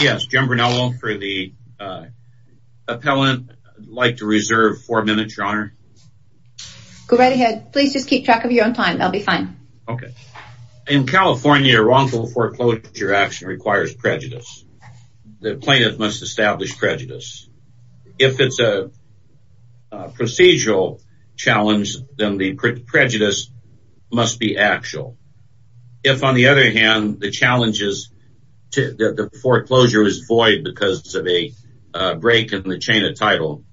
Yes, Jim Brunello for the appellant. I'd like to reserve four minutes, Your Honor. Go right ahead. Please just keep track of your own time. I'll be fine. Okay. In California, a wrongful foreclosure action requires prejudice. The plaintiff must establish prejudice. If it's a procedural challenge, then the prejudice must be actual. If, on the other hand, the challenge is that the foreclosure is void because of a break in the chain of title,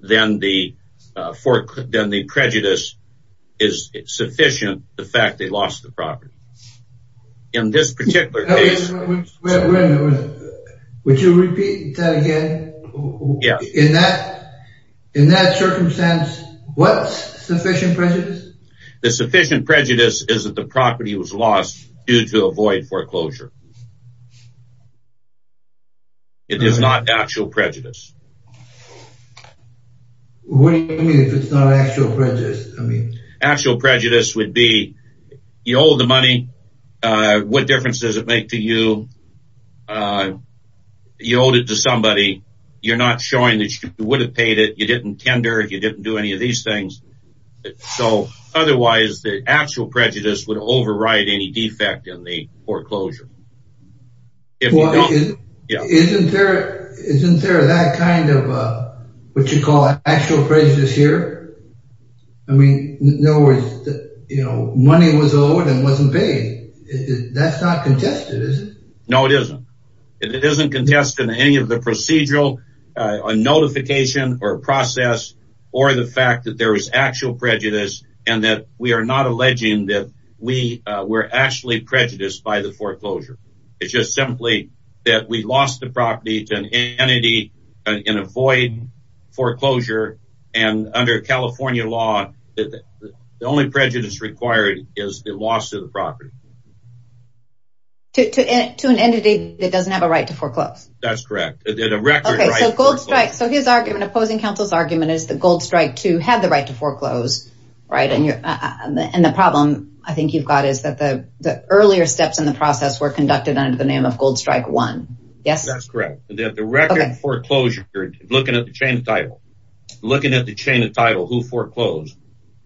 then the prejudice is sufficient the fact they lost the property. In this particular case... Wait a minute. Would you repeat that again? Yes. In that circumstance, what's sufficient prejudice? The sufficient prejudice is that the property was lost due to a void foreclosure. It is not actual prejudice. What do you mean if it's not actual prejudice? Actual prejudice would be you owe the money. What difference does it make to you? You owed it to somebody. You're not showing that you would have paid it. You didn't tender. You didn't do any of these things. Otherwise, the actual prejudice would override any defect in the foreclosure. Isn't there that kind of what you call actual prejudice here? In other words, money was owed and wasn't paid. That's not contested, is it? No, it isn't. It isn't contested in any of the procedural notification or process or the fact that there was actual prejudice and that we are not alleging that we were actually prejudiced by the foreclosure. It's just simply that we lost the property to an entity in a void foreclosure. Under California law, the only prejudice required is the loss of the property. To an entity that doesn't have a right to foreclose? So his argument, opposing counsel's argument is that Gold Strike II had the right to foreclose. And the problem I think you've got is that the earlier steps in the process were conducted under the name of Gold Strike I. That's correct. The record foreclosure, looking at the chain of title, looking at the chain of title who foreclosed,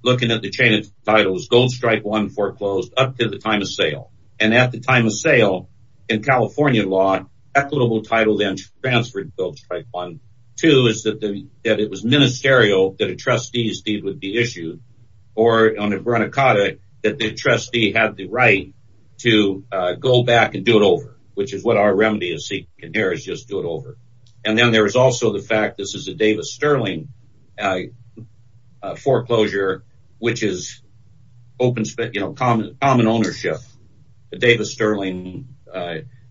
looking at the chain of titles, Gold Strike I foreclosed up to the time of sale. And at the time of sale, in California law, equitable title then transferred to Gold Strike I. Two is that it was ministerial that a trustee's deed would be issued. Or on a brunicata that the trustee had the right to go back and do it over. Which is what our remedy is seeking here is just do it over. And then there is also the fact this is a Davis Sterling foreclosure, which is common ownership. The Davis Sterling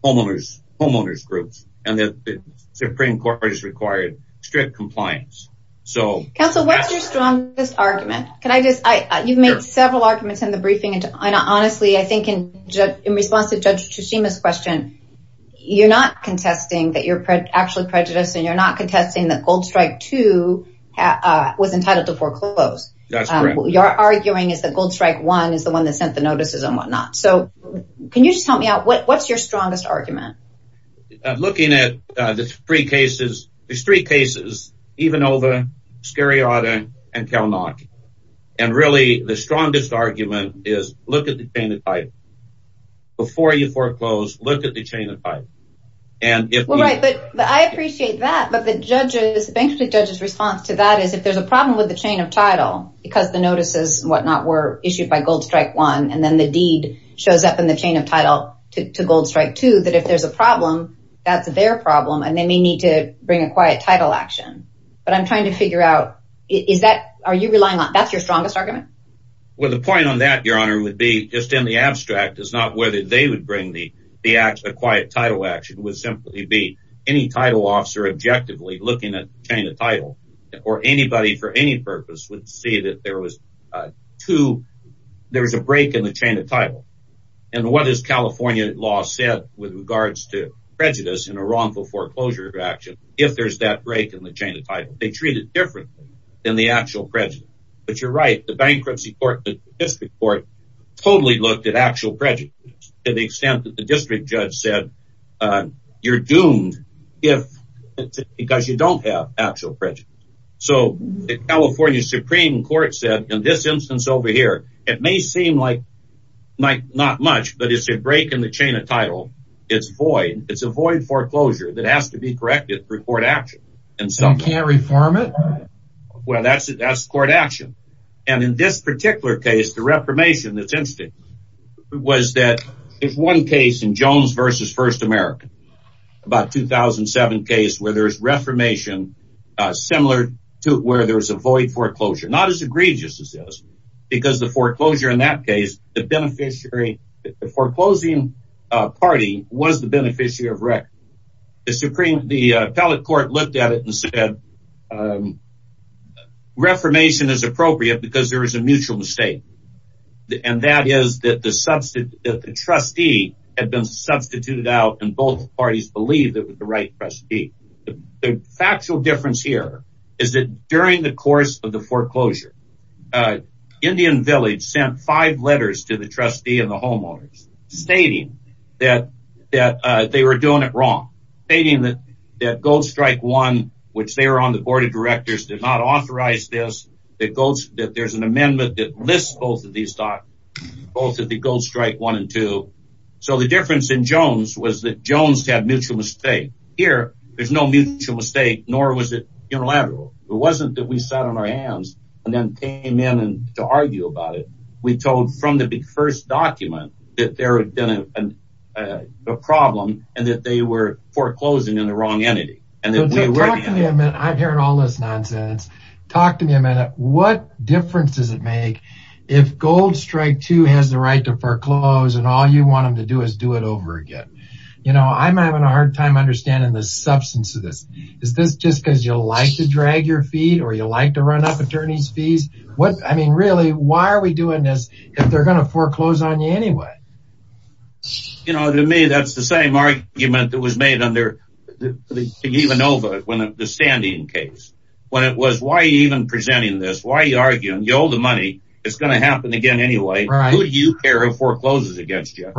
homeowners groups. And the Supreme Court has required strict compliance. Counsel, what's your strongest argument? You've made several arguments in the briefing. And honestly, I think in response to Judge Tsushima's question, you're not contesting that you're actually prejudiced and you're not contesting that Gold Strike II was entitled to foreclose. You're arguing is that Gold Strike I is the one that sent the notices and whatnot. So can you just help me out? What's your strongest argument? Looking at the three cases, there's three cases. Ivanova, Scariotta, and Kalnock. And really the strongest argument is look at the chain of title. Before you foreclose, look at the chain of title. Well, right, but I appreciate that. But the judge's, the bankruptcy judge's response to that is if there's a problem with the chain of title, because the notices and whatnot were issued by Gold Strike I, and then the deed shows up in the chain of title to Gold Strike II, that if there's a problem, that's their problem. And they may need to bring a quiet title action. But I'm trying to figure out, is that, are you relying on, that's your strongest argument? Well, the point on that, Your Honor, would be just in the abstract, is not whether they would bring the quiet title action. It would simply be any title officer objectively looking at the chain of title or anybody for any purpose would see that there was a break in the chain of title. And what has California law said with regards to prejudice in a wrongful foreclosure action if there's that break in the chain of title? They treat it differently than the actual prejudice. But you're right. The bankruptcy court, the district court, totally looked at actual prejudice to the extent that the district judge said, you're doomed because you don't have actual prejudice. So the California Supreme Court said in this instance over here, it may seem like not much, but it's a break in the chain of title. It's void. It's a void foreclosure that has to be corrected through court action. So you can't reform it? Well, that's court action. And in this particular case, the reformation that's interesting was that if one case in Jones v. First America, about 2007 case where there's reformation similar to where there's a void foreclosure, not as egregious as this because the foreclosure in that case, the beneficiary, the foreclosing party was the beneficiary of record. The appellate court looked at it and said, reformation is appropriate because there is a mutual mistake. And that is that the trustee had been substituted out and both parties believed it was the right trustee. The factual difference here is that during the course of the foreclosure, Indian Village sent five letters to the trustee and the homeowners stating that they were doing it wrong, stating that Gold Strike 1, which they were on the board of directors, did not authorize this, that there's an amendment that lists both of these documents, both of the Gold Strike 1 and 2. So the difference in Jones was that Jones had mutual mistake. Here, there's no mutual mistake, nor was it unilateral. It wasn't that we sat on our hands and then came in to argue about it. We told from the first document that there had been a problem and that they were foreclosing in the wrong entity. I'm hearing all this nonsense. Talk to me a minute. What difference does it make if Gold Strike 2 has the right to foreclose and all you want them to do is do it over again? I'm having a hard time understanding the substance of this. Is this just because you like to drag your feet or you like to run up attorney's fees? Really, why are we doing this if they're going to foreclose on you anyway? To me, that's the same argument that was made under the Standing case. When it was, why are you even presenting this? Why are you arguing? You owe the money. It's going to happen again anyway. Who do you care who forecloses against you?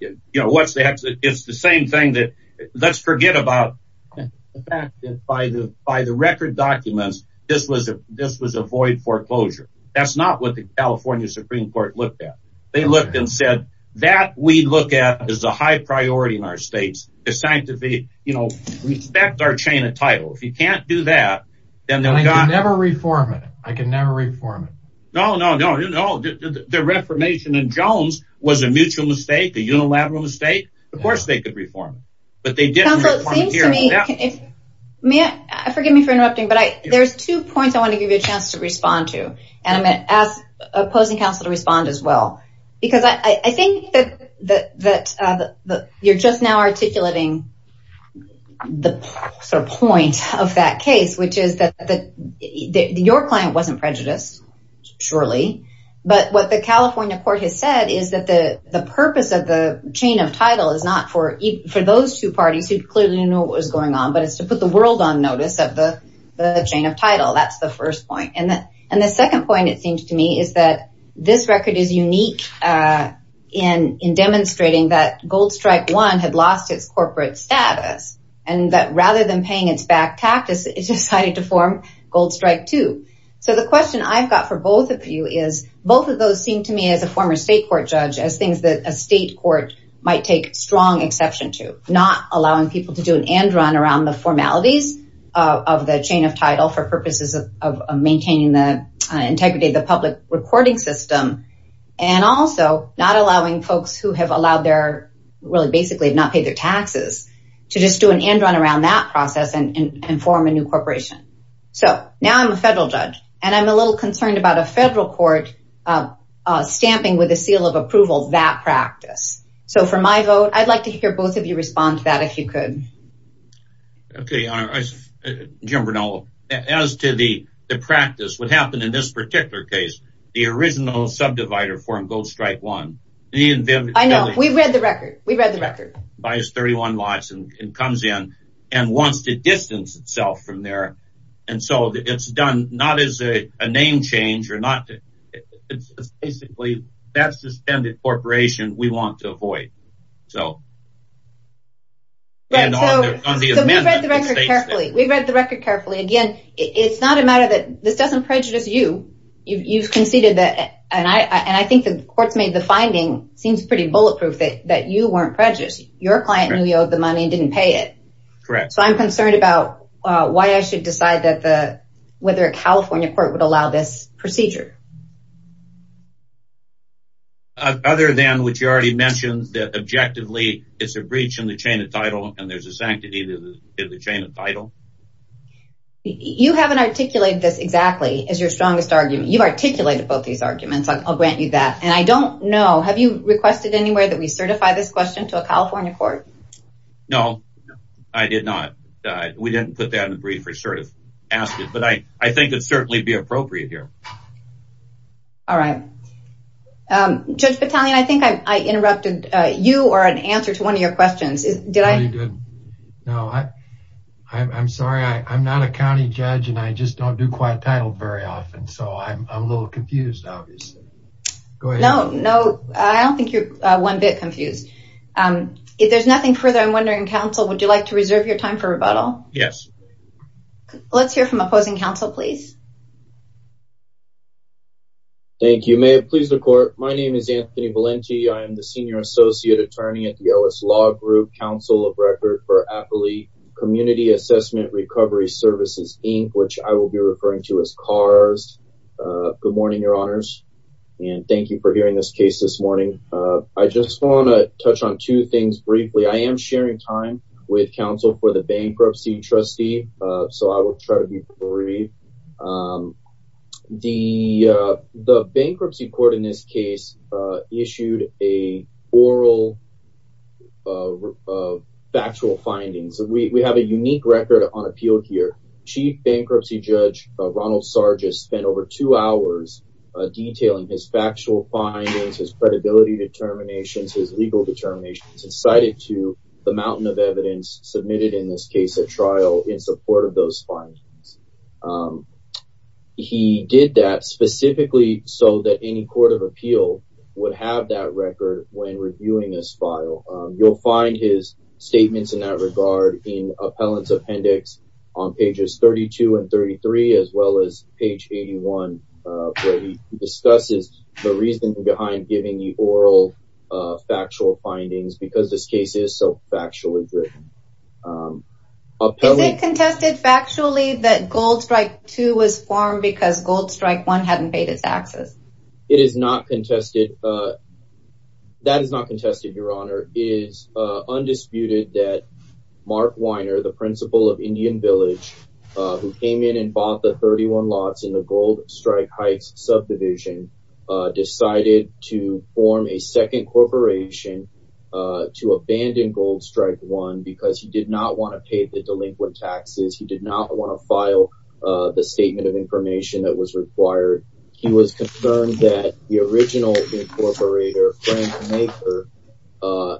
It's the same thing. Let's forget about the fact that by the record documents, this was a void foreclosure. That's not what the California Supreme Court looked at. They looked and said, that we look at as a high priority in our states. It's time to respect our chain of title. If you can't do that... I can never reform it. No, no, no. The reformation in Jones was a mutual mistake, a unilateral mistake. Of course they could reform it. Counsel, it seems to me... Forgive me for interrupting, but there's two points I want to give you a chance to respond to. I'm going to ask opposing counsel to respond as well. I think that you're just now articulating the point of that case, which is that your client wasn't prejudiced, surely, but what the California court has said is that the purpose of the chain of title is not for those two parties who clearly know what was going on, but it's to put the world on notice of the chain of title. That's the first point. The second point, it seems to me, is that this record is unique in demonstrating that Gold Strike I had lost its corporate status, and that rather than paying its back taxes, it decided to form Gold Strike II. The question I've got for both of you is, both of those seem to me as a former state court judge, as things that a state court might take strong exception to, not allowing people to do an end run around the formalities of the chain of title for purposes of maintaining the integrity of the public recording system, and also not allowing folks who have allowed their... really basically have not paid their taxes to just do an end run around that process and form a new corporation. Now I'm a federal judge, and I'm a little concerned about a federal court stamping with a seal of approval that practice. So for my vote, I'd like to hear both of you respond to that, if you could. Okay, Your Honor. As to the practice, what happened in this particular case, the original subdivider form, Gold Strike I... I know. We've read the record. We've read the record. ...buys 31 lots and comes in, and wants to distance itself from there, and so it's done not as a name change or not... It's basically that suspended corporation we want to avoid. So we've read the record carefully. We've read the record carefully. Again, it's not a matter that... This doesn't prejudice you. You've conceded that... And I think the court's made the finding, seems pretty bulletproof, that you weren't prejudiced. Your client knew you owed the money and didn't pay it. Correct. So I'm concerned about why I should decide whether a California court would allow this procedure. Other than what you already mentioned, that objectively it's a breach in the chain of title and there's a sanctity to the chain of title? You haven't articulated this exactly as your strongest argument. You've articulated both these arguments. I'll grant you that. And I don't know... Have you requested anywhere that we certify this question to a California court? No, I did not. We didn't put that in the brief or sort of ask it. But I think it'd certainly be appropriate here. All right. Judge Battaglione, I think I interrupted you or an answer to one of your questions. Are you good? No, I'm sorry. I'm not a county judge and I just don't do quiet title very often. So I'm a little confused, obviously. Go ahead. No, I don't think you're one bit confused. If there's nothing further, I'm wondering, counsel, would you like to reserve your time for rebuttal? Yes. Let's hear from opposing counsel, please. Thank you. May it please the court. My name is Anthony Valenti. I am the senior associate attorney at the OS Law Group Council of Record for Appalachia Community Assessment Recovery Services, Inc., which I will be referring to as CARS. Good morning, Your Honors. And thank you for hearing this case this morning. I just want to touch on two things briefly. I am sharing time with counsel for the bankruptcy trustee, so I will try to be brief. The bankruptcy court in this case issued an oral factual findings. We have a unique record on appeal here. Chief Bankruptcy Judge Ronald Sargis spent over two hours detailing his factual findings, his credibility determinations, his legal determinations, and cited to the mountain of evidence submitted in this case at trial in support of those findings. He did that specifically so that any court of appeal would have that record when reviewing this file. You'll find his statements in that regard in appellant's appendix on pages 32 and 33, as well as page 81, where he discusses the reasoning behind giving the oral factual findings because this case is so factually driven. Is it contested factually that Gold Strike II was formed because Gold Strike I hadn't paid its taxes? It is not contested. That is not contested, Your Honor. It is undisputed that Mark Weiner, the principal of Indian Village, who came in and bought the 31 lots in the Gold Strike Heights subdivision, decided to form a second corporation to abandon Gold Strike I because he did not want to pay the delinquent taxes. He did not want to file the statement of information that was required. He was concerned that the original incorporator, Frank Maker,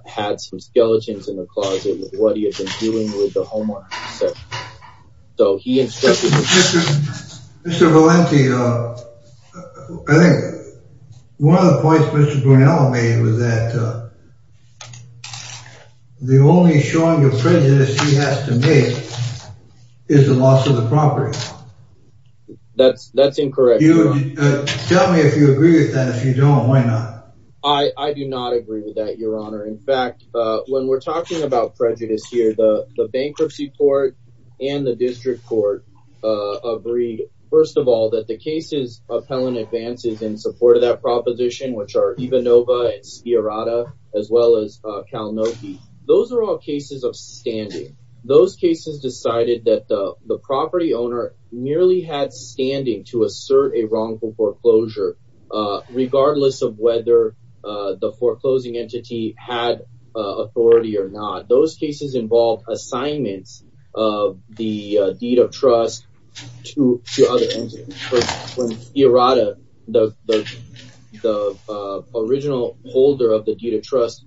had some skeletons in the closet with what he had been doing with the homeowner. So he instructed... Mr. Valenti, I think one of the points Mr. Brunello made was that the only showing of prejudice he has to make is the loss of the property. That's incorrect, Your Honor. Tell me if you agree with that. If you don't, why not? I do not agree with that, Your Honor. In fact, when we're talking about prejudice here, the bankruptcy court and the district court agreed, first of all, that the cases of Helen Advances in support of that proposition, which are Ivanova and Sciarrata, as well as Kalanoki, those are all cases of standing. Those cases decided that the property owner merely had standing to assert a wrongful foreclosure regardless of whether the foreclosing entity had authority or not. Those cases involved assignments of the deed of trust to other entities. When Sciarrata, the original holder of the deed of trust,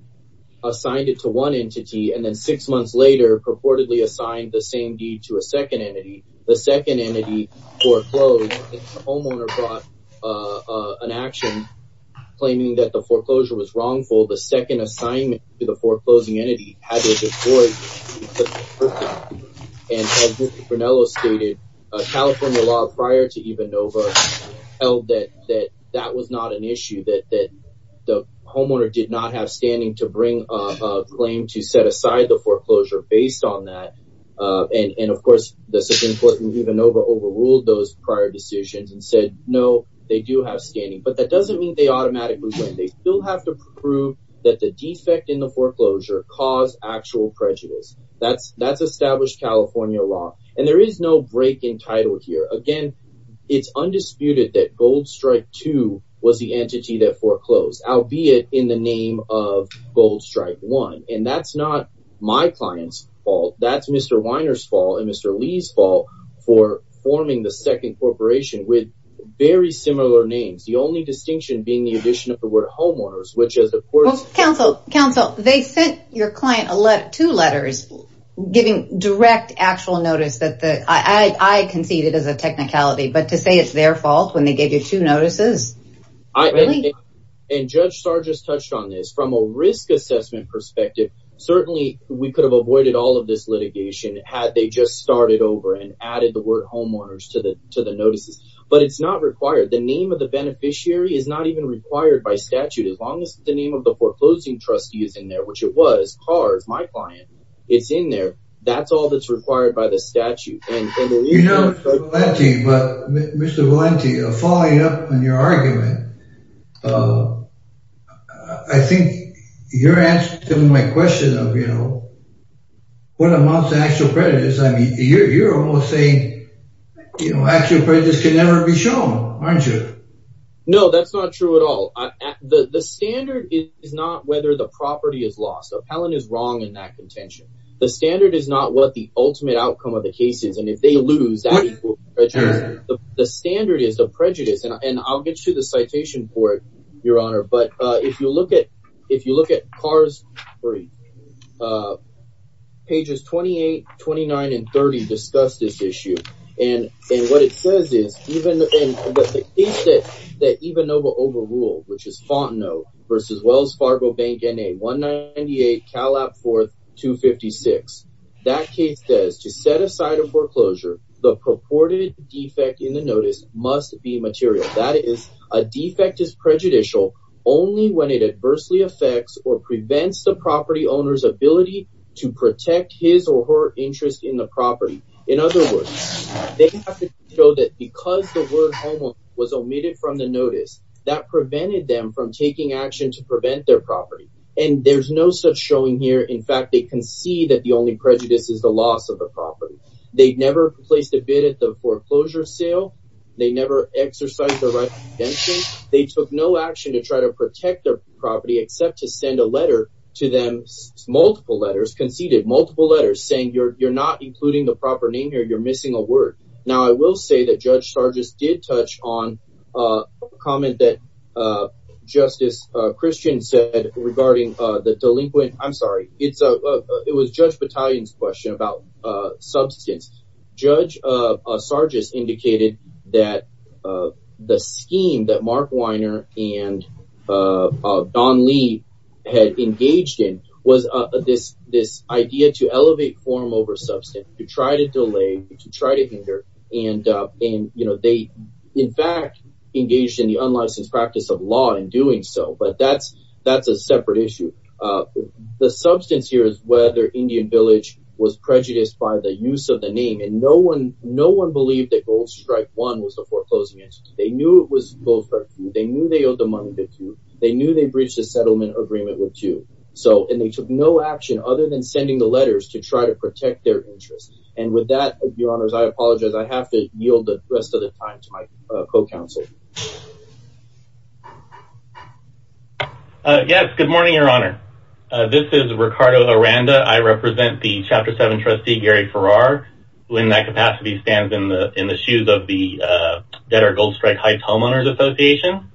assigned it to one entity and then six months later purportedly assigned the same deed to a second entity, the second entity foreclosed. The homeowner brought an action claiming that the foreclosure was wrongful. The second assignment to the foreclosing entity had to be avoided. And as Mr. Brunello stated, California law prior to Ivanova held that that was not an issue, that the homeowner did not have standing to bring a claim to set aside the foreclosure based on that. And of course, this is important, Ivanova overruled those prior decisions and said, no, they do have standing. But that doesn't mean they automatically they still have to prove that the defect in the foreclosure caused actual prejudice. That's established California law. And there is no break in title here. Again, it's undisputed that Gold Strike 2 was the entity that foreclosed, albeit in the name of Gold Strike 1. And that's not my client's fault. That's Mr. Weiner's fault and Mr. Lee's fault for forming the second corporation with very similar names. The only distinction being the addition of the word homeowners, which is of course... Counsel, they sent your client two letters giving direct actual notice that the... I concede it as a technicality, but to say it's their fault when they gave you two notices, really? And Judge Starr just touched on this. From a risk assessment perspective, certainly we could have avoided all of this litigation had they just started over and added the word homeowners to the notices. But it's not required. The name of the beneficiary is not even required by statute as long as the name of the foreclosing trustee is in there, which it was. Cars, my client, it's in there. That's all that's required by the statute. You know, Mr. Valente, following up on your argument, I think you're answering my question of what amounts to actual prejudice. I mean, you're almost saying actual prejudice can never be shown, aren't you? No, that's not true at all. The standard is not whether the property is lost. Appellant is wrong in that contention. The standard is not what the ultimate outcome of the case is. And if they lose, that's prejudice. The standard is the prejudice. And I'll get you to the citation for it, Your Honor. But if you look at Cars 3, pages 28, 29, and 30 discuss this issue. And what it says is, the case that Ivanova overruled, which is Fontenot v. Wells Fargo Bank, NA 198, Calab 4, 256. That case says, to set aside a foreclosure, the purported defect in the notice must be material. That is, a defect is prejudicial only when it adversely affects or prevents the property owner's ability to protect his or her interest in the property. In other words, they have to show that because the word homeowner was omitted from the notice, that prevented them from taking action to prevent their property. And there's no such showing here. In fact, they concede that the only prejudice is the loss of the property. They never placed a bid at the foreclosure sale. They never exercised the right of redemption. They took no action to try to protect their property except to send a letter to them, multiple letters, conceded multiple letters, saying, you're not including the proper name here. You're missing a word. Now, I will say that Judge Sargis did touch on a comment that Justice Christian said regarding the delinquent. I'm sorry. It was Judge Battalion's question about substance. Judge Sargis indicated that the scheme that Mark Weiner and Don Lee had engaged in was this idea to elevate form over substance, to try to delay, to try to hinder. And, you know, they in fact engaged in the unlicensed practice of law in doing so. But that's a separate issue. The substance here is whether Indian Village was prejudiced by the use of the name. And no one believed that Gold Strike One was the foreclosing entity. They knew it was Gold Strike Two. They knew they owed the money to two. They knew they breached the settlement agreement with two. And they took no action other than sending the letters to try to protect their interests. And with that, Your Honors, I apologize. I have to yield the rest of the time to my co-counsel. Yes. Good morning, Your Honor. This is Ricardo Aranda. I represent the Chapter 7 Trustee Gary Farrar who in that capacity stands in the shoes of the Debtor Gold Strike Heights Homeowners Association.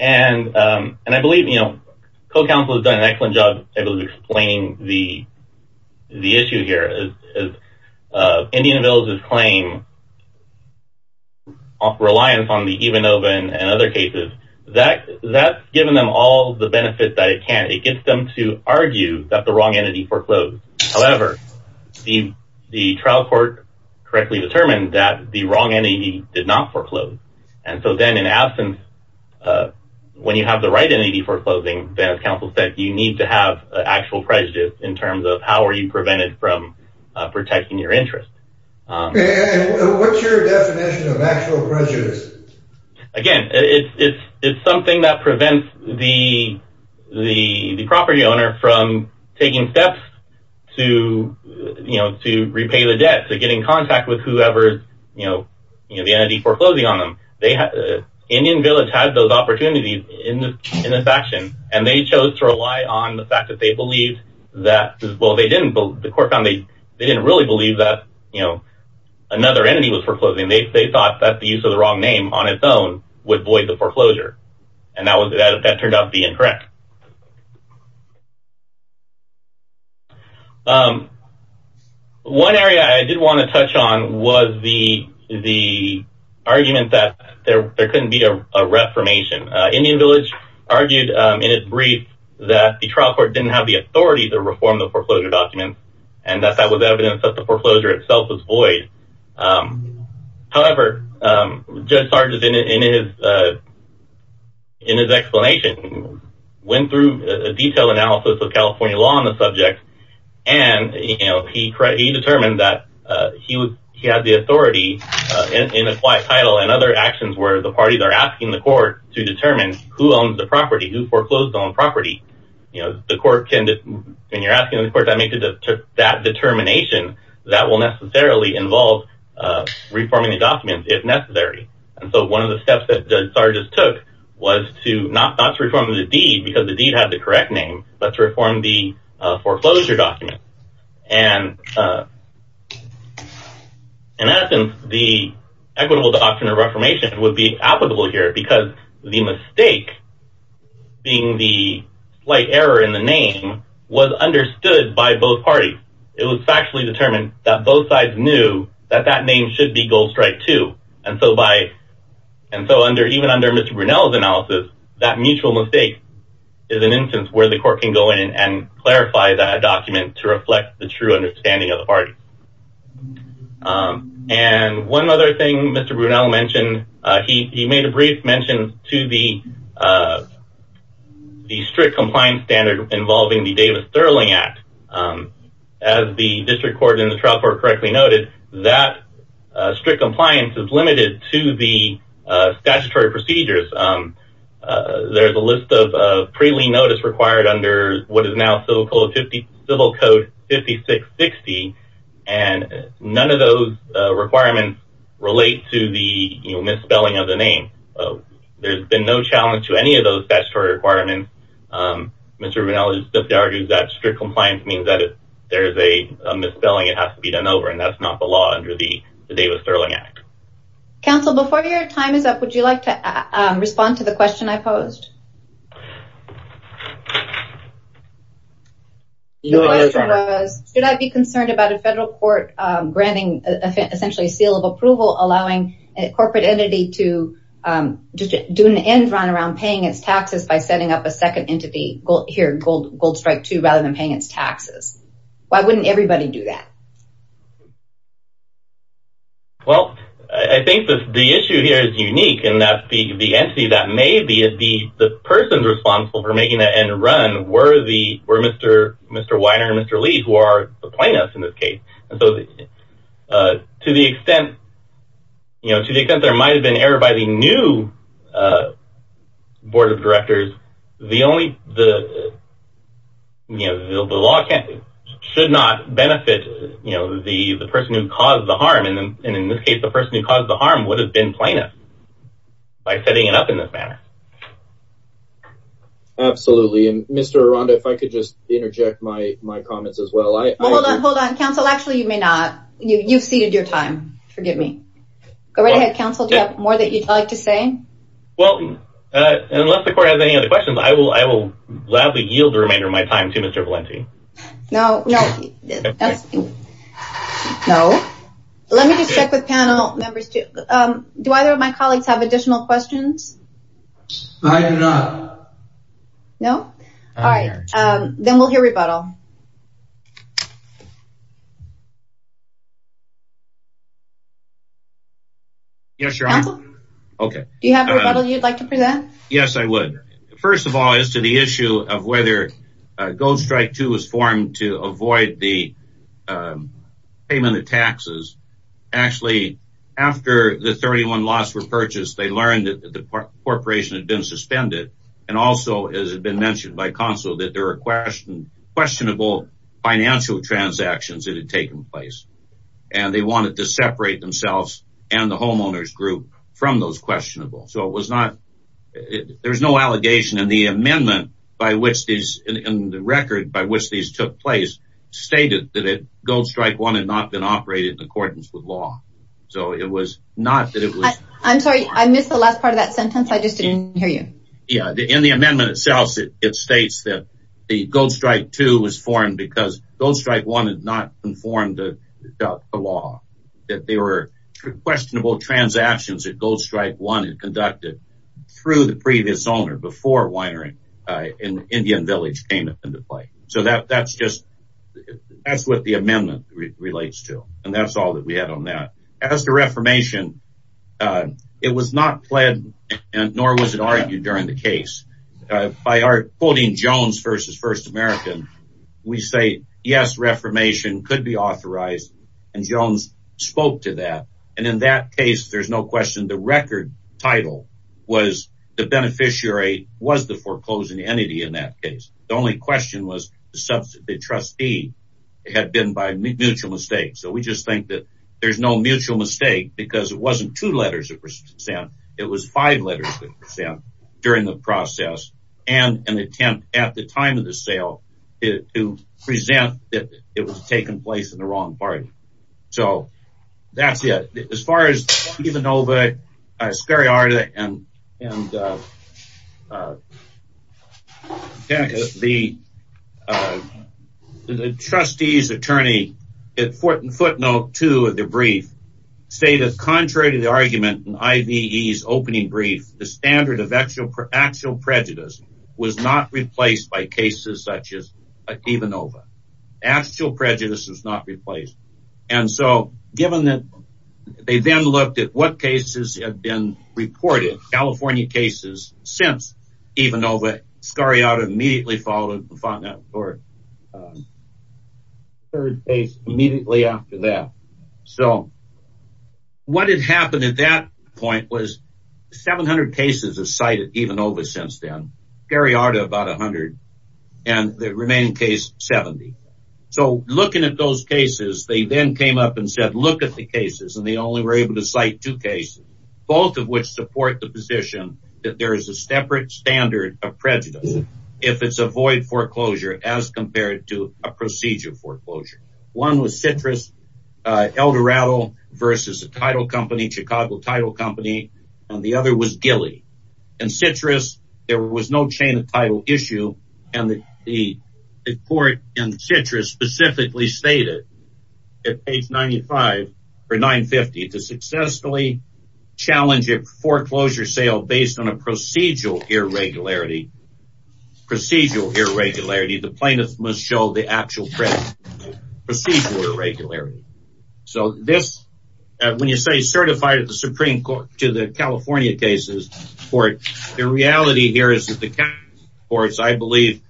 And I believe, you know, co-counsel has done an excellent job of explaining the issue here. Indian Village's claim of reliance on the EVA NOVA and other cases, that's given them all the benefits that it can. It gets them to argue that the wrong entity foreclosed. However, the trial court correctly determined that the wrong entity did not foreclose. And so then in absence, when you have the right entity foreclosing, then as counsel said, you need to have actual prejudice in terms of how are you prevented from protecting your interest. And what's your definition of actual prejudice? Again, it's something that prevents the the property owner from taking steps to, you know, to repay the debt, to get in contact with whoever's, you know, the entity foreclosing on them. Indian Village had those opportunities in this action. And they chose to rely on the fact that they believed that, well, the court found they didn't really believe that, you know, another entity was foreclosing. They thought that the use of the wrong name on its own would void the foreclosure. And that turned out to be incorrect. One area I did want to touch on was the the argument that there couldn't be a reformation. Indian Village argued in its brief that the trial court didn't have the authority to reform the foreclosure documents and that that was evidence that the foreclosure itself was void. However, Judge Sargis in his in his explanation went through a detailed analysis of California law on the subject and, you know, he determined that he was he had the authority in a quiet title and other actions where the parties are asking the court to determine who owns the property who foreclosed on property. You know, the court can when you're asking the court to make that determination that will necessarily involve reforming the documents if necessary. And so, one of the steps that Judge Sargis took was to not to reform the deed because the deed had the correct name but to reform the foreclosure document. And in essence, the equitable doctrine of reformation would be applicable here because the mistake being the slight error in the name was understood by both parties. It was factually determined that both sides knew that that name should be Gold Strike 2. And so by and so under even under Mr. Brunel's analysis that mutual mistake is an instance where the court can go in and clarify that document to reflect the true understanding of the party. And one other thing Mr. Brunel mentioned he made a brief mention to the the strict compliance standard involving the Davis-Thurling Act. As the district court and the trial court correctly noted that strict compliance is limited to the statutory procedures. There's a list of pre-lien notice required under what is now so-called Civil Code 5660 and none of those requirements relate to the misspelling of the name. There's been no challenge to any of those statutory requirements. Mr. Brunel just argued that strict compliance means that if there's a misspelling it has to be done over and that's not the law under the Davis-Thurling Act. Counsel, before your time is up would you like to respond to the question I posed? The question was should I be concerned about a federal court granting essentially a seal of approval allowing a corporate entity to do an end run around paying its taxes by setting up a second entity here, Gold Strike 2, rather than paying its taxes. Why wouldn't everybody do that? Well, I think the issue here is unique in that the entity that may be the person responsible for making that end run were Mr. Weiner and Mr. Lee who are plaintiffs in this case. So, to the extent you know, to the extent there might have been error by the new board of directors the only the you know, the law should not benefit you know, the person who caused the harm and in this case the person who caused the harm would have been plaintiff by setting it up in this manner. Absolutely. Mr. Aranda, if I could just interject my comments as well. Hold on, hold on. Counsel, actually you may not. You've ceded your time. Forgive me. Go right ahead, Counsel. Do you have more that you'd like to say? Well, unless the court has any other questions I will gladly yield the remainder of my time to Mr. Valenti. No, no. No. Let me just check with panel members. Do either of my colleagues have additional questions? I do not. No? All right. Then we'll hear rebuttal. Counsel? Yes, Your Honor. Counsel? Okay. Do you have a rebuttal you'd like to present? Yes, I would. First of all, as to the issue of whether Gold Strike II was formed to avoid the payment of taxes. Actually, after the 31 lots were purchased they learned that the corporation had been suspended and also as had been mentioned by Counsel that there were questionable financial transactions that had taken place and they wanted to separate themselves and the homeowners group from those questionable. So it was not there was no allegation in the amendment by which these in the record by which these took place stated that Gold Strike I had not been operated in accordance with law. So it was not that it was I'm sorry. I missed the last part of that sentence. I just didn't hear you. Yeah. In the amendment itself it states that the Gold Strike II was formed because Gold Strike I had not been formed without the law. That there were questionable transactions that Gold Strike I had conducted through the previous owner before winery in Indian Village came into play. So that that's just that's what the amendment relates to and that's all that we had on that. As to Reformation it was not pled nor was it argued during the case by our quoting Jones versus First American we say yes Reformation could be authorized and Jones spoke to that and in that case there's no question the record title was the beneficiary was the foreclosing entity in that case. The only question was the trustee had been by mutual mistake. So we just think that there's no mutual mistake because it wasn't two letters that were sent it was five letters that were sent during the process and an attempt at the time of the sale to present that it was taking place in the wrong party. So that's it. As far as Ivanova Scariarda and and the the trustee's attorney at footnote two of the brief stated contrary to the argument in IVE's opening brief the standard of actual prejudice was not replaced by cases such as Ivanova actual prejudice was not replaced and so given that they then looked at what cases had been reported California cases since Ivanova Scariarda immediately followed the footnote or third case immediately after that. So what had happened at that point was 700 cases of cited Ivanova since then Scariarda about 100 and the remaining case 70. So looking at those cases they then came up and said look at the cases and they only were able to cite two cases both of which support the position that there is a separate standard of prejudice if it's a void foreclosure as compared to a procedure foreclosure. One was Citrus Eldorado versus a title company Chicago title company and the other was Gilly and Citrus there was no chain of title issue and the court in Citrus specifically stated at page 95 or 950 to successfully challenge a foreclosure sale based on a procedural irregularity procedural irregularity the plaintiff must show the actual procedural irregularity. So this when you say certified at the Supreme Court to the California cases court the reality here is that the California courts I believe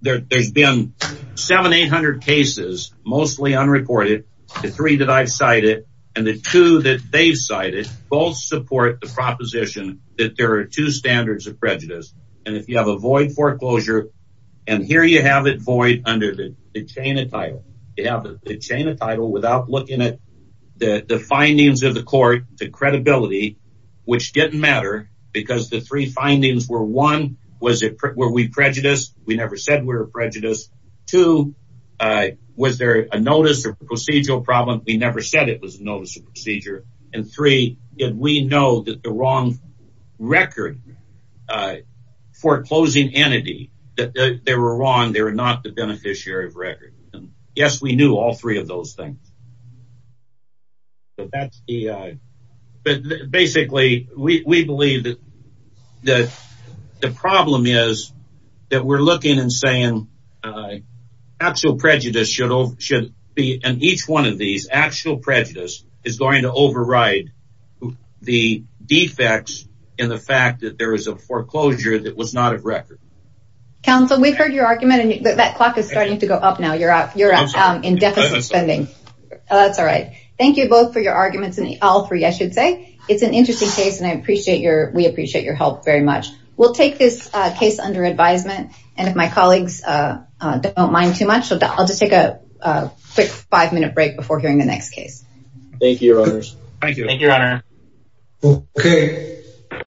there's been seven, eight hundred cases mostly unrecorded the three that I've cited and the two that they've cited both support the proposition that there are two standards of prejudice and if you have a void foreclosure and here you have it void under the chain of title you have the chain of title without looking at the findings of the court the credibility which didn't matter because the three findings were one was it were we prejudiced we never said we were prejudiced two was there a notice of procedural problem we never said it was a notice of procedure and three did we know that the wrong record foreclosing entity that they were wrong they were not the beneficiary of record yes we knew all three of those things but that's the basically we believe that the problem is that we're looking and saying actual prejudice should be in each one of these actual prejudice is going to override the defects in the fact that there is a foreclosure that was not a record counsel we've heard your argument and that clock is starting to go up now you're up in deficit spending that's alright thank you both for your arguments and all three I should say it's an interesting case and I appreciate your we appreciate your help very much we'll take this case under advisement and if my colleagues don't mind too much I'll just take a quick five minute break before hearing the next case thank you your honors thank you thank you your honor okay